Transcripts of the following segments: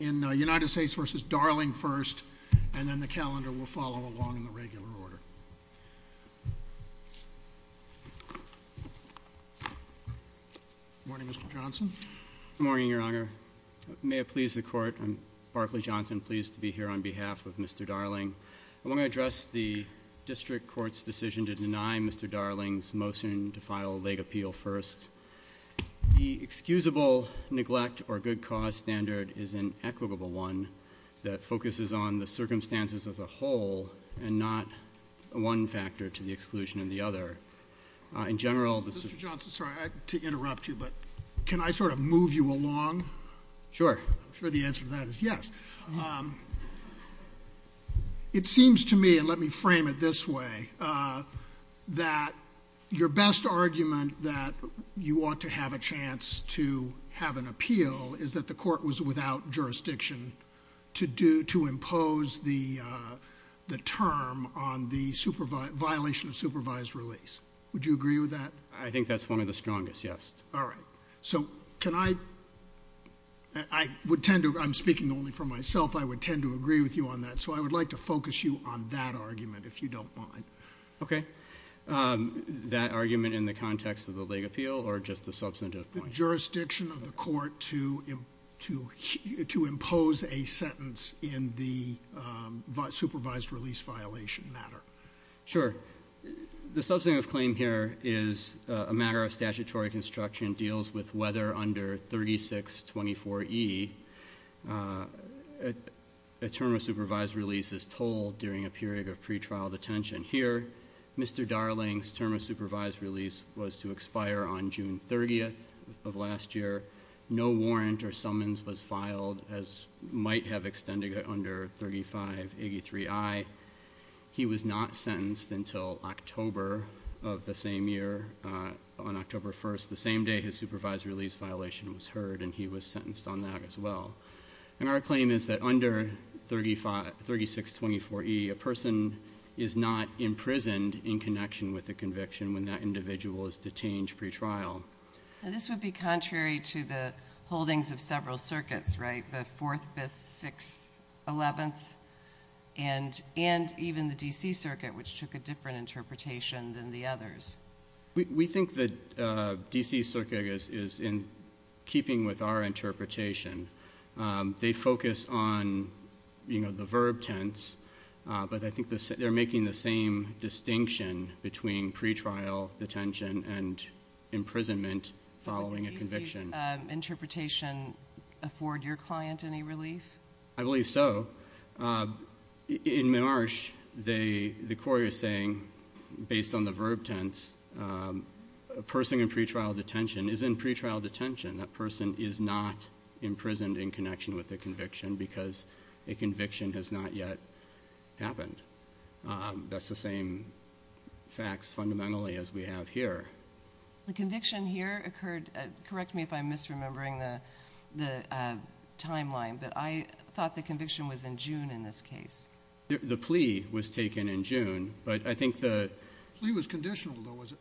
In United States v. Darling first and then the calendar will follow along in the regular order. Good morning Mr. Johnson. Good morning your honor. May it please the court I'm Barkley Johnson pleased to be here on behalf of Mr. Darling. I want to address the district court's decision to deny Mr. Darling's motion to file a leg appeal first. The excusable neglect or good cause standard is an equitable one that focuses on the circumstances as a whole and not one factor to the exclusion of the other. In general this is... Mr. Johnson sorry to interrupt you but can I sort of move you along? Sure. I'm sure the answer to that is yes. It seems to me and let me frame it this way that your best argument that you want to have a chance to have an appeal is that the court was without jurisdiction to do to impose the term on the supervise violation of supervised release. Would you agree with that? I think that's one of the strongest yes. All right so can I I would tend to I'm speaking only for myself I would tend to agree with you on that so I would like to focus you on that argument if you don't mind. Okay that argument in the context of the leg appeal or just the substantive point? The jurisdiction of the court to to to impose a sentence in the supervised release violation matter. Sure the substantive claim here is a matter of statutory construction deals with whether under 36 24e a term of supervised release is told during a period of pre-trial detention. Here Mr. Darling's term of was to expire on June 30th of last year. No warrant or summons was filed as might have extended it under 35 83i. He was not sentenced until October of the same year on October 1st the same day his supervised release violation was heard and he was sentenced on that as well. And our claim is that under 35 36 24e a person is not imprisoned in connection with the conviction when that individual is detained pre-trial. This would be contrary to the holdings of several circuits right the 4th 5th 6th 11th and and even the DC circuit which took a different interpretation than the others. We think that DC circuit is is in keeping with our interpretation. They focus on you know the verb tense but I think they're making the same distinction between pre-trial detention and imprisonment following a conviction. Interpretation afford your client any relief? I believe so. In Marsh they the court is saying based on the verb tense a person in pre-trial detention is in pre-trial detention. That person is not imprisoned in connection with the conviction because a conviction has not yet happened. That's the same facts fundamentally as we have here. The conviction here occurred correct me if I'm misremembering the the timeline but I thought the conviction was in June in this case. The plea was taken in June but I think the plea was conditional though was it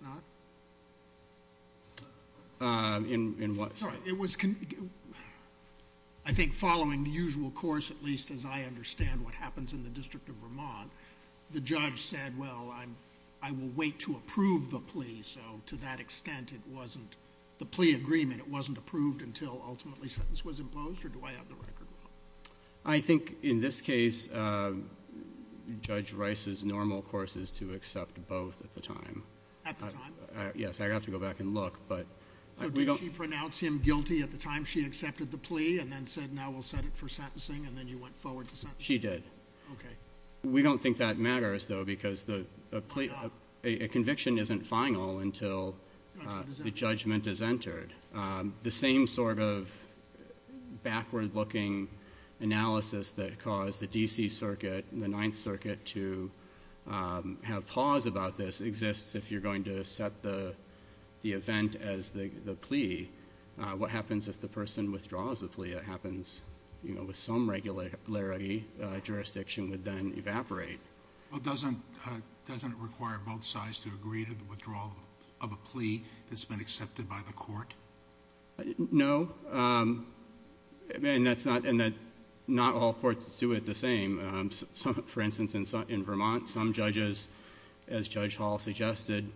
not? In in what? It was I think following the usual course at least as I understand what happens in the district of Vermont the judge said well I'm I will wait to approve the plea so to that extent it wasn't the plea agreement it wasn't approved until ultimately sentence was imposed or do I have the record wrong? I think in this case uh Judge Rice's normal course is to accept both at the time. At the time? Yes I have to go back and look but. Did she pronounce him guilty at the time she accepted the plea and then said now we'll set it for sentencing and then you went forward to sentence? She did. Okay. We don't think that matters though because the a conviction isn't final until the judgment is entered. The same sort of backward looking analysis that caused the DC circuit the ninth circuit to have pause about this exists if you're going to set the the event as the the plea. What happens if the person withdraws the plea? It happens you know with some regularity jurisdiction would then evaporate. Well doesn't doesn't it require both sides to agree to the agreement that's been accepted by the court? No and that's not and that not all courts do it the same. For instance in Vermont some judges as Judge Hall suggested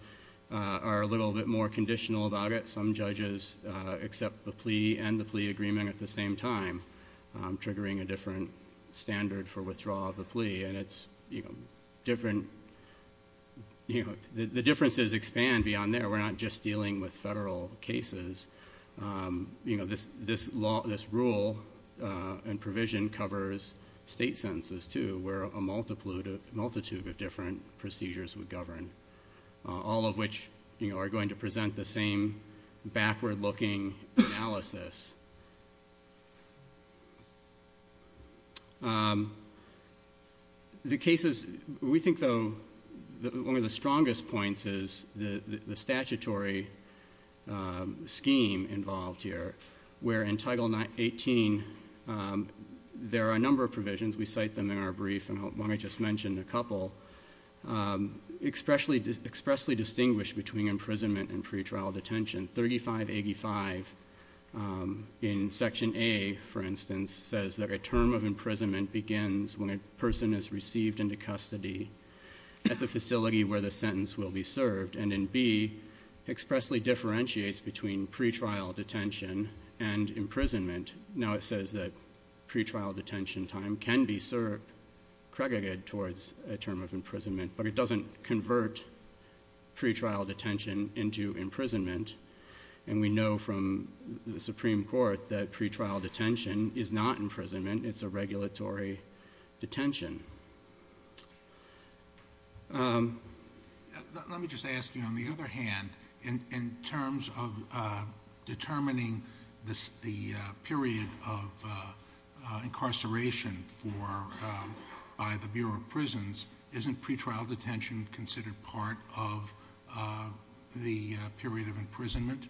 are a little bit more conditional about it. Some judges accept the plea and the plea agreement at the same time triggering a different standard for withdrawal of the plea and it's you know different you know the differences expand beyond there. We're not just dealing with federal cases you know this this law this rule and provision covers state sentences too where a multitude of multitude of different procedures would govern all of which you know are going to present the same backward looking analysis. The cases we think though that one of the strongest points is the the statutory scheme involved here where in title 918 there are a number of provisions we cite them in our brief and let me just mention a couple expressly expressly distinguished between imprisonment and pre-trial detention. 3585 in section A for instance says that a term of imprisonment begins when a person is received into custody at the facility where the sentence will be served and in B expressly differentiates between pre-trial detention and imprisonment. Now it says that pre-trial detention time can be served credited towards a term of imprisonment but it doesn't convert pre-trial detention into imprisonment and we know from the Supreme Court that pre-trial detention is not imprisonment it's a regulatory detention. Let me just ask you on the other hand in in terms of determining this the period of of the period of imprisonment?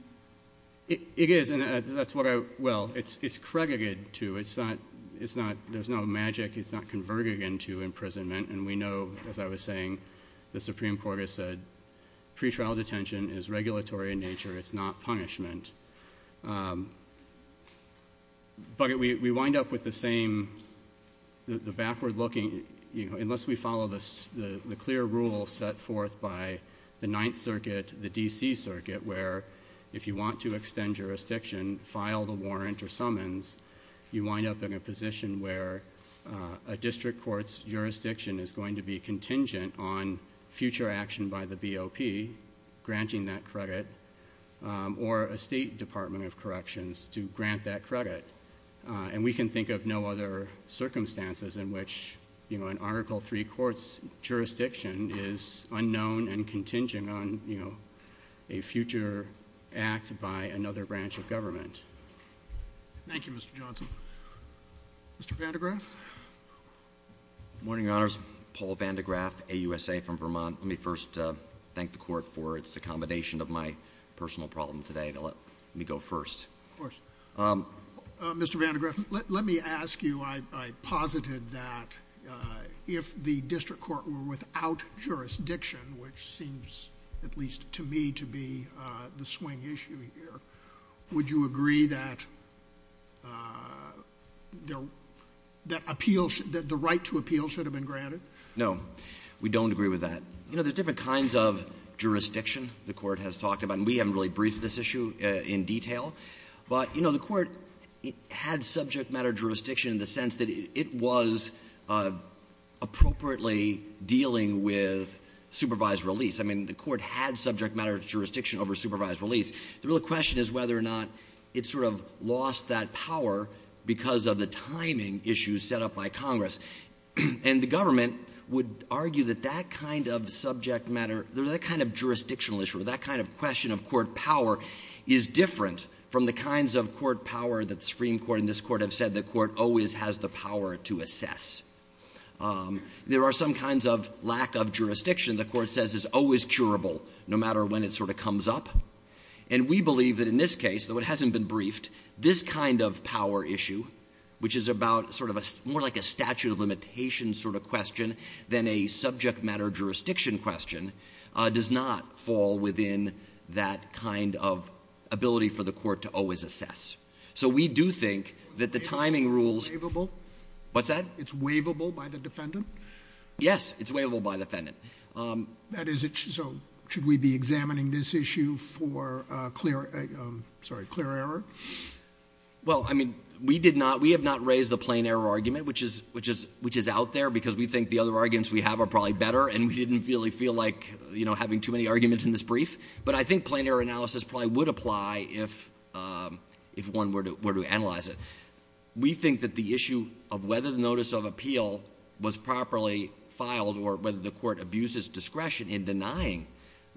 It is and that's what I well it's it's credited to it's not it's not there's no magic it's not converted into imprisonment and we know as I was saying the Supreme Court has said pre-trial detention is regulatory in nature it's not punishment. But we we wind up with the same the backward looking you know unless we follow this the clear rule set forth by the Ninth Circuit the D.C. Circuit where if you want to extend jurisdiction file the warrant or summons you wind up in a position where a district court's jurisdiction is going to be contingent on future action by the BOP granting that credit or a state department of corrections to grant that credit and we can think of no other circumstances in which you know an article three court's jurisdiction is unknown and contingent on you know a future act by another branch of government. Thank you Mr. Johnson. Mr. Vandegraaff. Good morning your honors Paul Vandegraaff AUSA from Vermont let me first thank the court for its accommodation of my personal problem today to let me go first. Of course Mr. Vandegraaff let me ask you I posited that if the district court were without jurisdiction which seems at least to me to be the swing issue here would you agree that that appeals that the right to appeal should have been granted? No we don't agree with that you know there's different kinds of jurisdiction the court has talked about we haven't really briefed this matter jurisdiction in the sense that it was appropriately dealing with supervised release. I mean the court had subject matter jurisdiction over supervised release the real question is whether or not it sort of lost that power because of the timing issues set up by congress and the government would argue that that kind of subject matter that kind of jurisdictional issue that kind of question of court power is different from the kinds of court power that the Supreme Court and this court have said the court always has the power to assess. There are some kinds of lack of jurisdiction the court says is always curable no matter when it sort of comes up and we believe that in this case though it hasn't been briefed this kind of power issue which is about sort of a more like a statute of limitations sort of question than a subject matter jurisdiction question does not fall within that kind of ability for the court to always assess. So we do think that the timing rules what's that it's waivable by the defendant yes it's waivable by the defendant um that is it so should we be examining this issue for uh clear um sorry clear error well I mean we did not we have not raised the plain error argument which is which is which is out there because we think the other arguments we have are probably better and we didn't really feel like you know having too many arguments in this brief but I think plain error analysis probably would apply if um if one were to were to analyze it we think that the issue of whether the notice of appeal was properly filed or whether the court abuses discretion in denying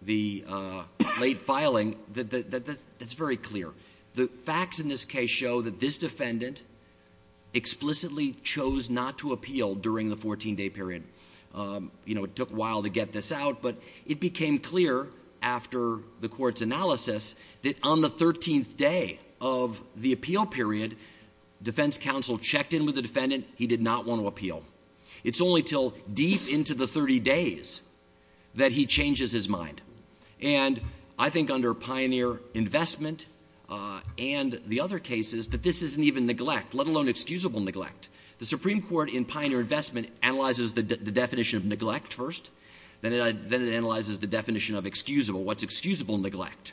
the uh late filing that that's very clear the facts in this case show that this defendant explicitly chose not to appeal during the 14-day period um you know it took a while to get this out but it became clear after the court's analysis that on the 13th day of the appeal period defense counsel checked in with the defendant he did not want to appeal it's only till deep into the 30 days that he changes his mind and I think under pioneer investment uh and the other cases that this isn't even neglect let alone excusable neglect the supreme court in pioneer investment analyzes the definition of neglect first then it then it analyzes the definition of excusable what's excusable neglect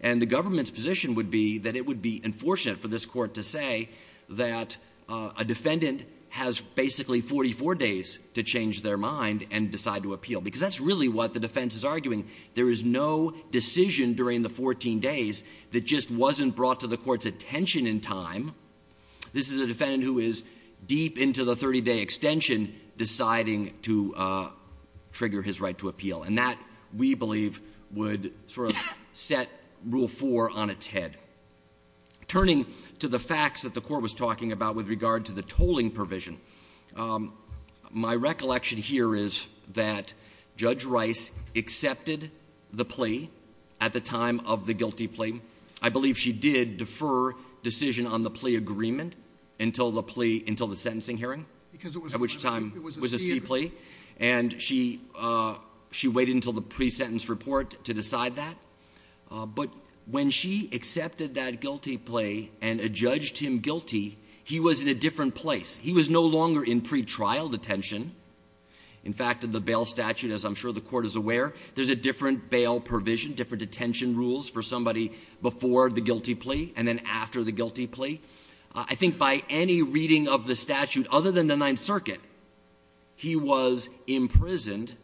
and the government's position would be that it would be unfortunate for this court to say that a defendant has basically 44 days to change their mind and decide to appeal because that's really what the defense is arguing there is no decision during the 14 days that just wasn't brought to the court's attention in time this is a defendant who is deep into the 30-day extension deciding to uh trigger his right to appeal and that we believe would sort of set rule four on its head turning to the facts that the court was talking about with of the guilty plea I believe she did defer decision on the plea agreement until the plea until the sentencing hearing because it was at which time it was a sea plea and she uh she waited until the pre-sentence report to decide that but when she accepted that guilty plea and adjudged him guilty he was in a different place he was no longer in pre-trial detention in fact of the bail statute as I'm sure the court is aware there's a different bail provision different detention rules for somebody before the guilty plea and then after the guilty plea I think by any reading of the statute other than the ninth circuit he was imprisoned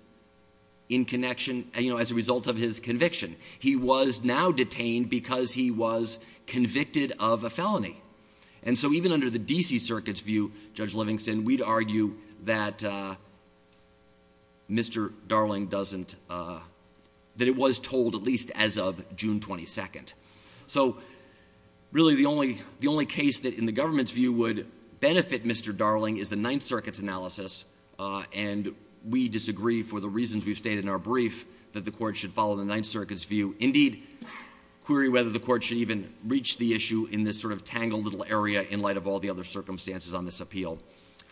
in connection you know as a result of his conviction he was now detained because he was convicted of a felony and so even under the dc circuit's view judge livingston we'd argue that uh mr darling doesn't uh that it was told at least as of june 22nd so really the only the only case that in the government's view would benefit mr darling is the ninth circuit's analysis uh and we disagree for the reasons we've stated in our brief that the court should follow the ninth circuit's view indeed query whether the court should even reach the issue in this sort of tangled little area in light of all the other circumstances on this appeal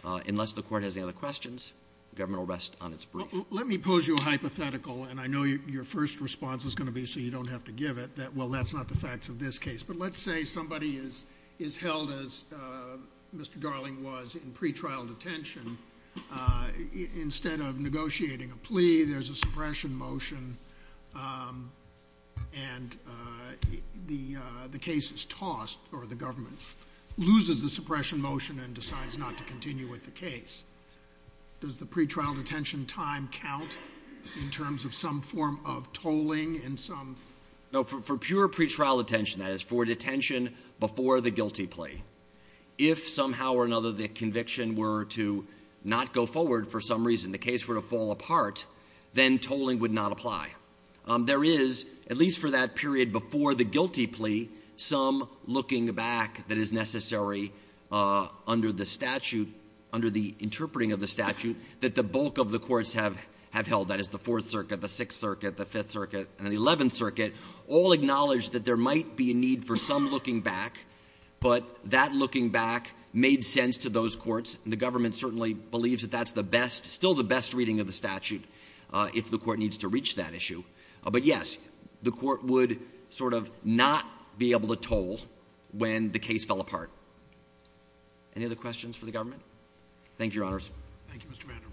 uh unless the court has any other questions the government will rest on its brief let me pose you a hypothetical and I know your first response is going to be so you don't have to give it that well that's not the facts of this case but let's say somebody is is held as uh mr darling was in pre-trial detention uh instead of negotiating a plea there's a suppression motion um and uh the uh the case is tossed or the government loses the suppression motion and decides not to continue with the case does the pre-trial detention time count in terms of some form of tolling in some no for pure pre-trial attention that is for detention before the guilty plea if somehow or another the conviction were to not go forward for some reason the case were to fall apart then tolling would not apply um there is at least for that period before the guilty plea some looking back that is necessary uh under the statute under the interpreting of the statute that the bulk of the courts have have held that is the fourth circuit the sixth circuit the fifth circuit and the 11th circuit all acknowledge that there might be a need for some looking back but that looking back made sense to those courts and the government certainly believes that that's the best still the best reading of the statute uh if the court needs to reach that issue but yes the court would sort of not be able to toll when the case fell apart any other questions for the government thank you your honors thank you mr vanderbilt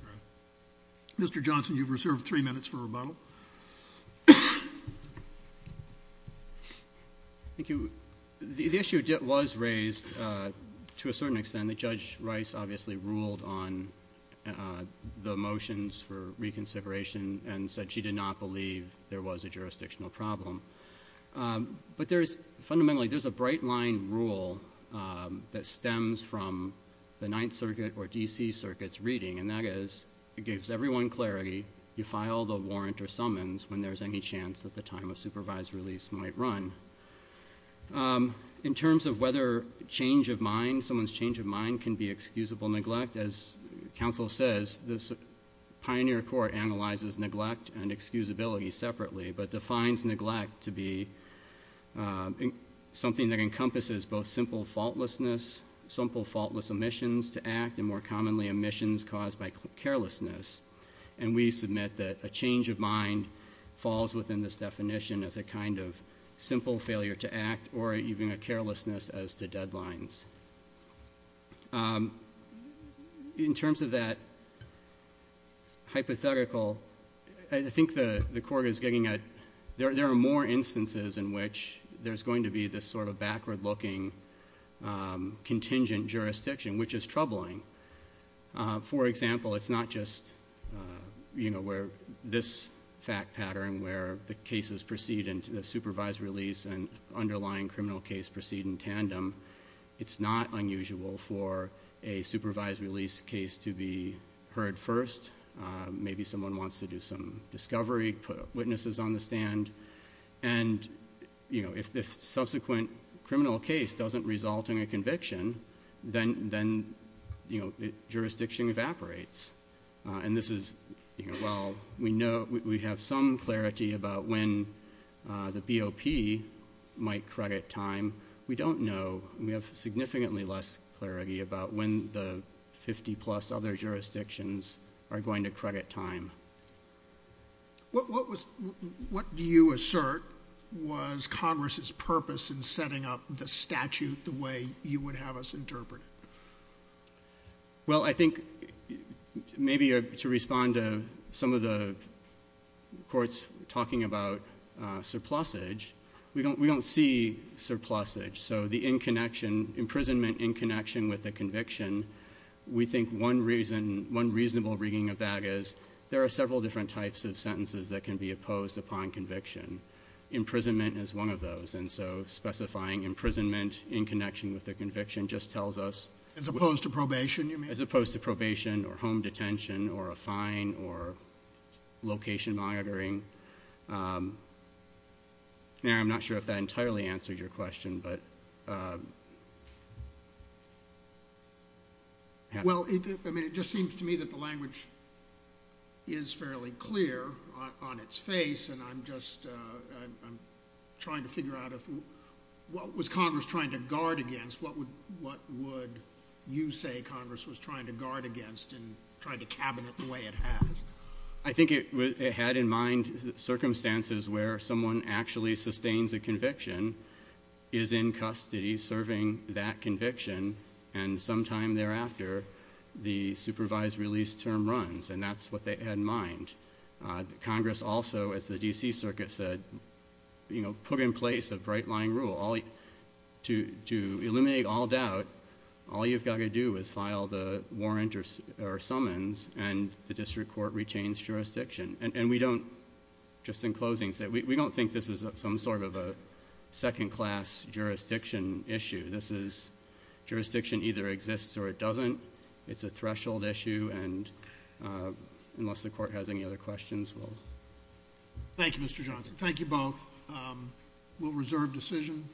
mr johnson you've reserved three minutes for rebuttal thank you the issue was raised uh to a certain extent that judge rice obviously ruled on uh the motions for reconsideration and said she did not believe there was a jurisdictional problem but there's fundamentally there's a bright line rule that stems from the ninth circuit or dc circuits reading and that is it gives everyone clarity you file the warrant or summons when there's any chance that the time of supervised release might run um in terms of whether change of mind someone's change of mind can be excusable neglect as counsel says this pioneer court analyzes neglect and excusability separately but defines neglect to be uh something that encompasses both simple faultlessness simple faultless omissions to act and more commonly omissions caused by carelessness and we submit that a simple failure to act or even a carelessness as to deadlines in terms of that hypothetical i think the the court is getting a there are more instances in which there's going to be this sort of backward looking um contingent jurisdiction which is troubling for example it's not just you know where this fact pattern where the cases proceed the supervised release and underlying criminal case proceed in tandem it's not unusual for a supervised release case to be heard first maybe someone wants to do some discovery put witnesses on the stand and you know if the subsequent criminal case doesn't result in a conviction then then you know jurisdiction evaporates and this is you know well we know we have some clarity about when uh the bop might credit time we don't know we have significantly less clarity about when the 50 plus other jurisdictions are going to credit time what what was what do you assert was congress's purpose in setting up the statute the way you would have us interpret it i think maybe to respond to some of the courts talking about surplusage we don't we don't see surplusage so the in connection imprisonment in connection with the conviction we think one reason one reasonable reading of that is there are several different types of sentences that can be opposed upon conviction imprisonment is one of those and so specifying imprisonment in connection with the conviction just tells us as opposed to probation as opposed to probation or home detention or a fine or location monitoring um and i'm not sure if that entirely answers your question but um well i mean it just seems to me that the language is fairly clear on its face and i'm just uh i'm trying to figure out if what was congress trying to guard against what would what would you say congress was trying to guard against and trying to cabinet the way it has i think it had in mind circumstances where someone actually sustains a conviction is in custody serving that conviction and sometime thereafter the supervised release term runs and that's what they had in mind congress also as the dc circuit said you know put in place a bright line rule all to to eliminate all doubt all you've got to do is file the warrant or or summons and the district court retains jurisdiction and we don't just in closing say we don't think this is some sort of a second class jurisdiction issue this is jurisdiction either exists or it unless the court has any other questions we'll thank you mr johnson thank you both um we'll reserve decision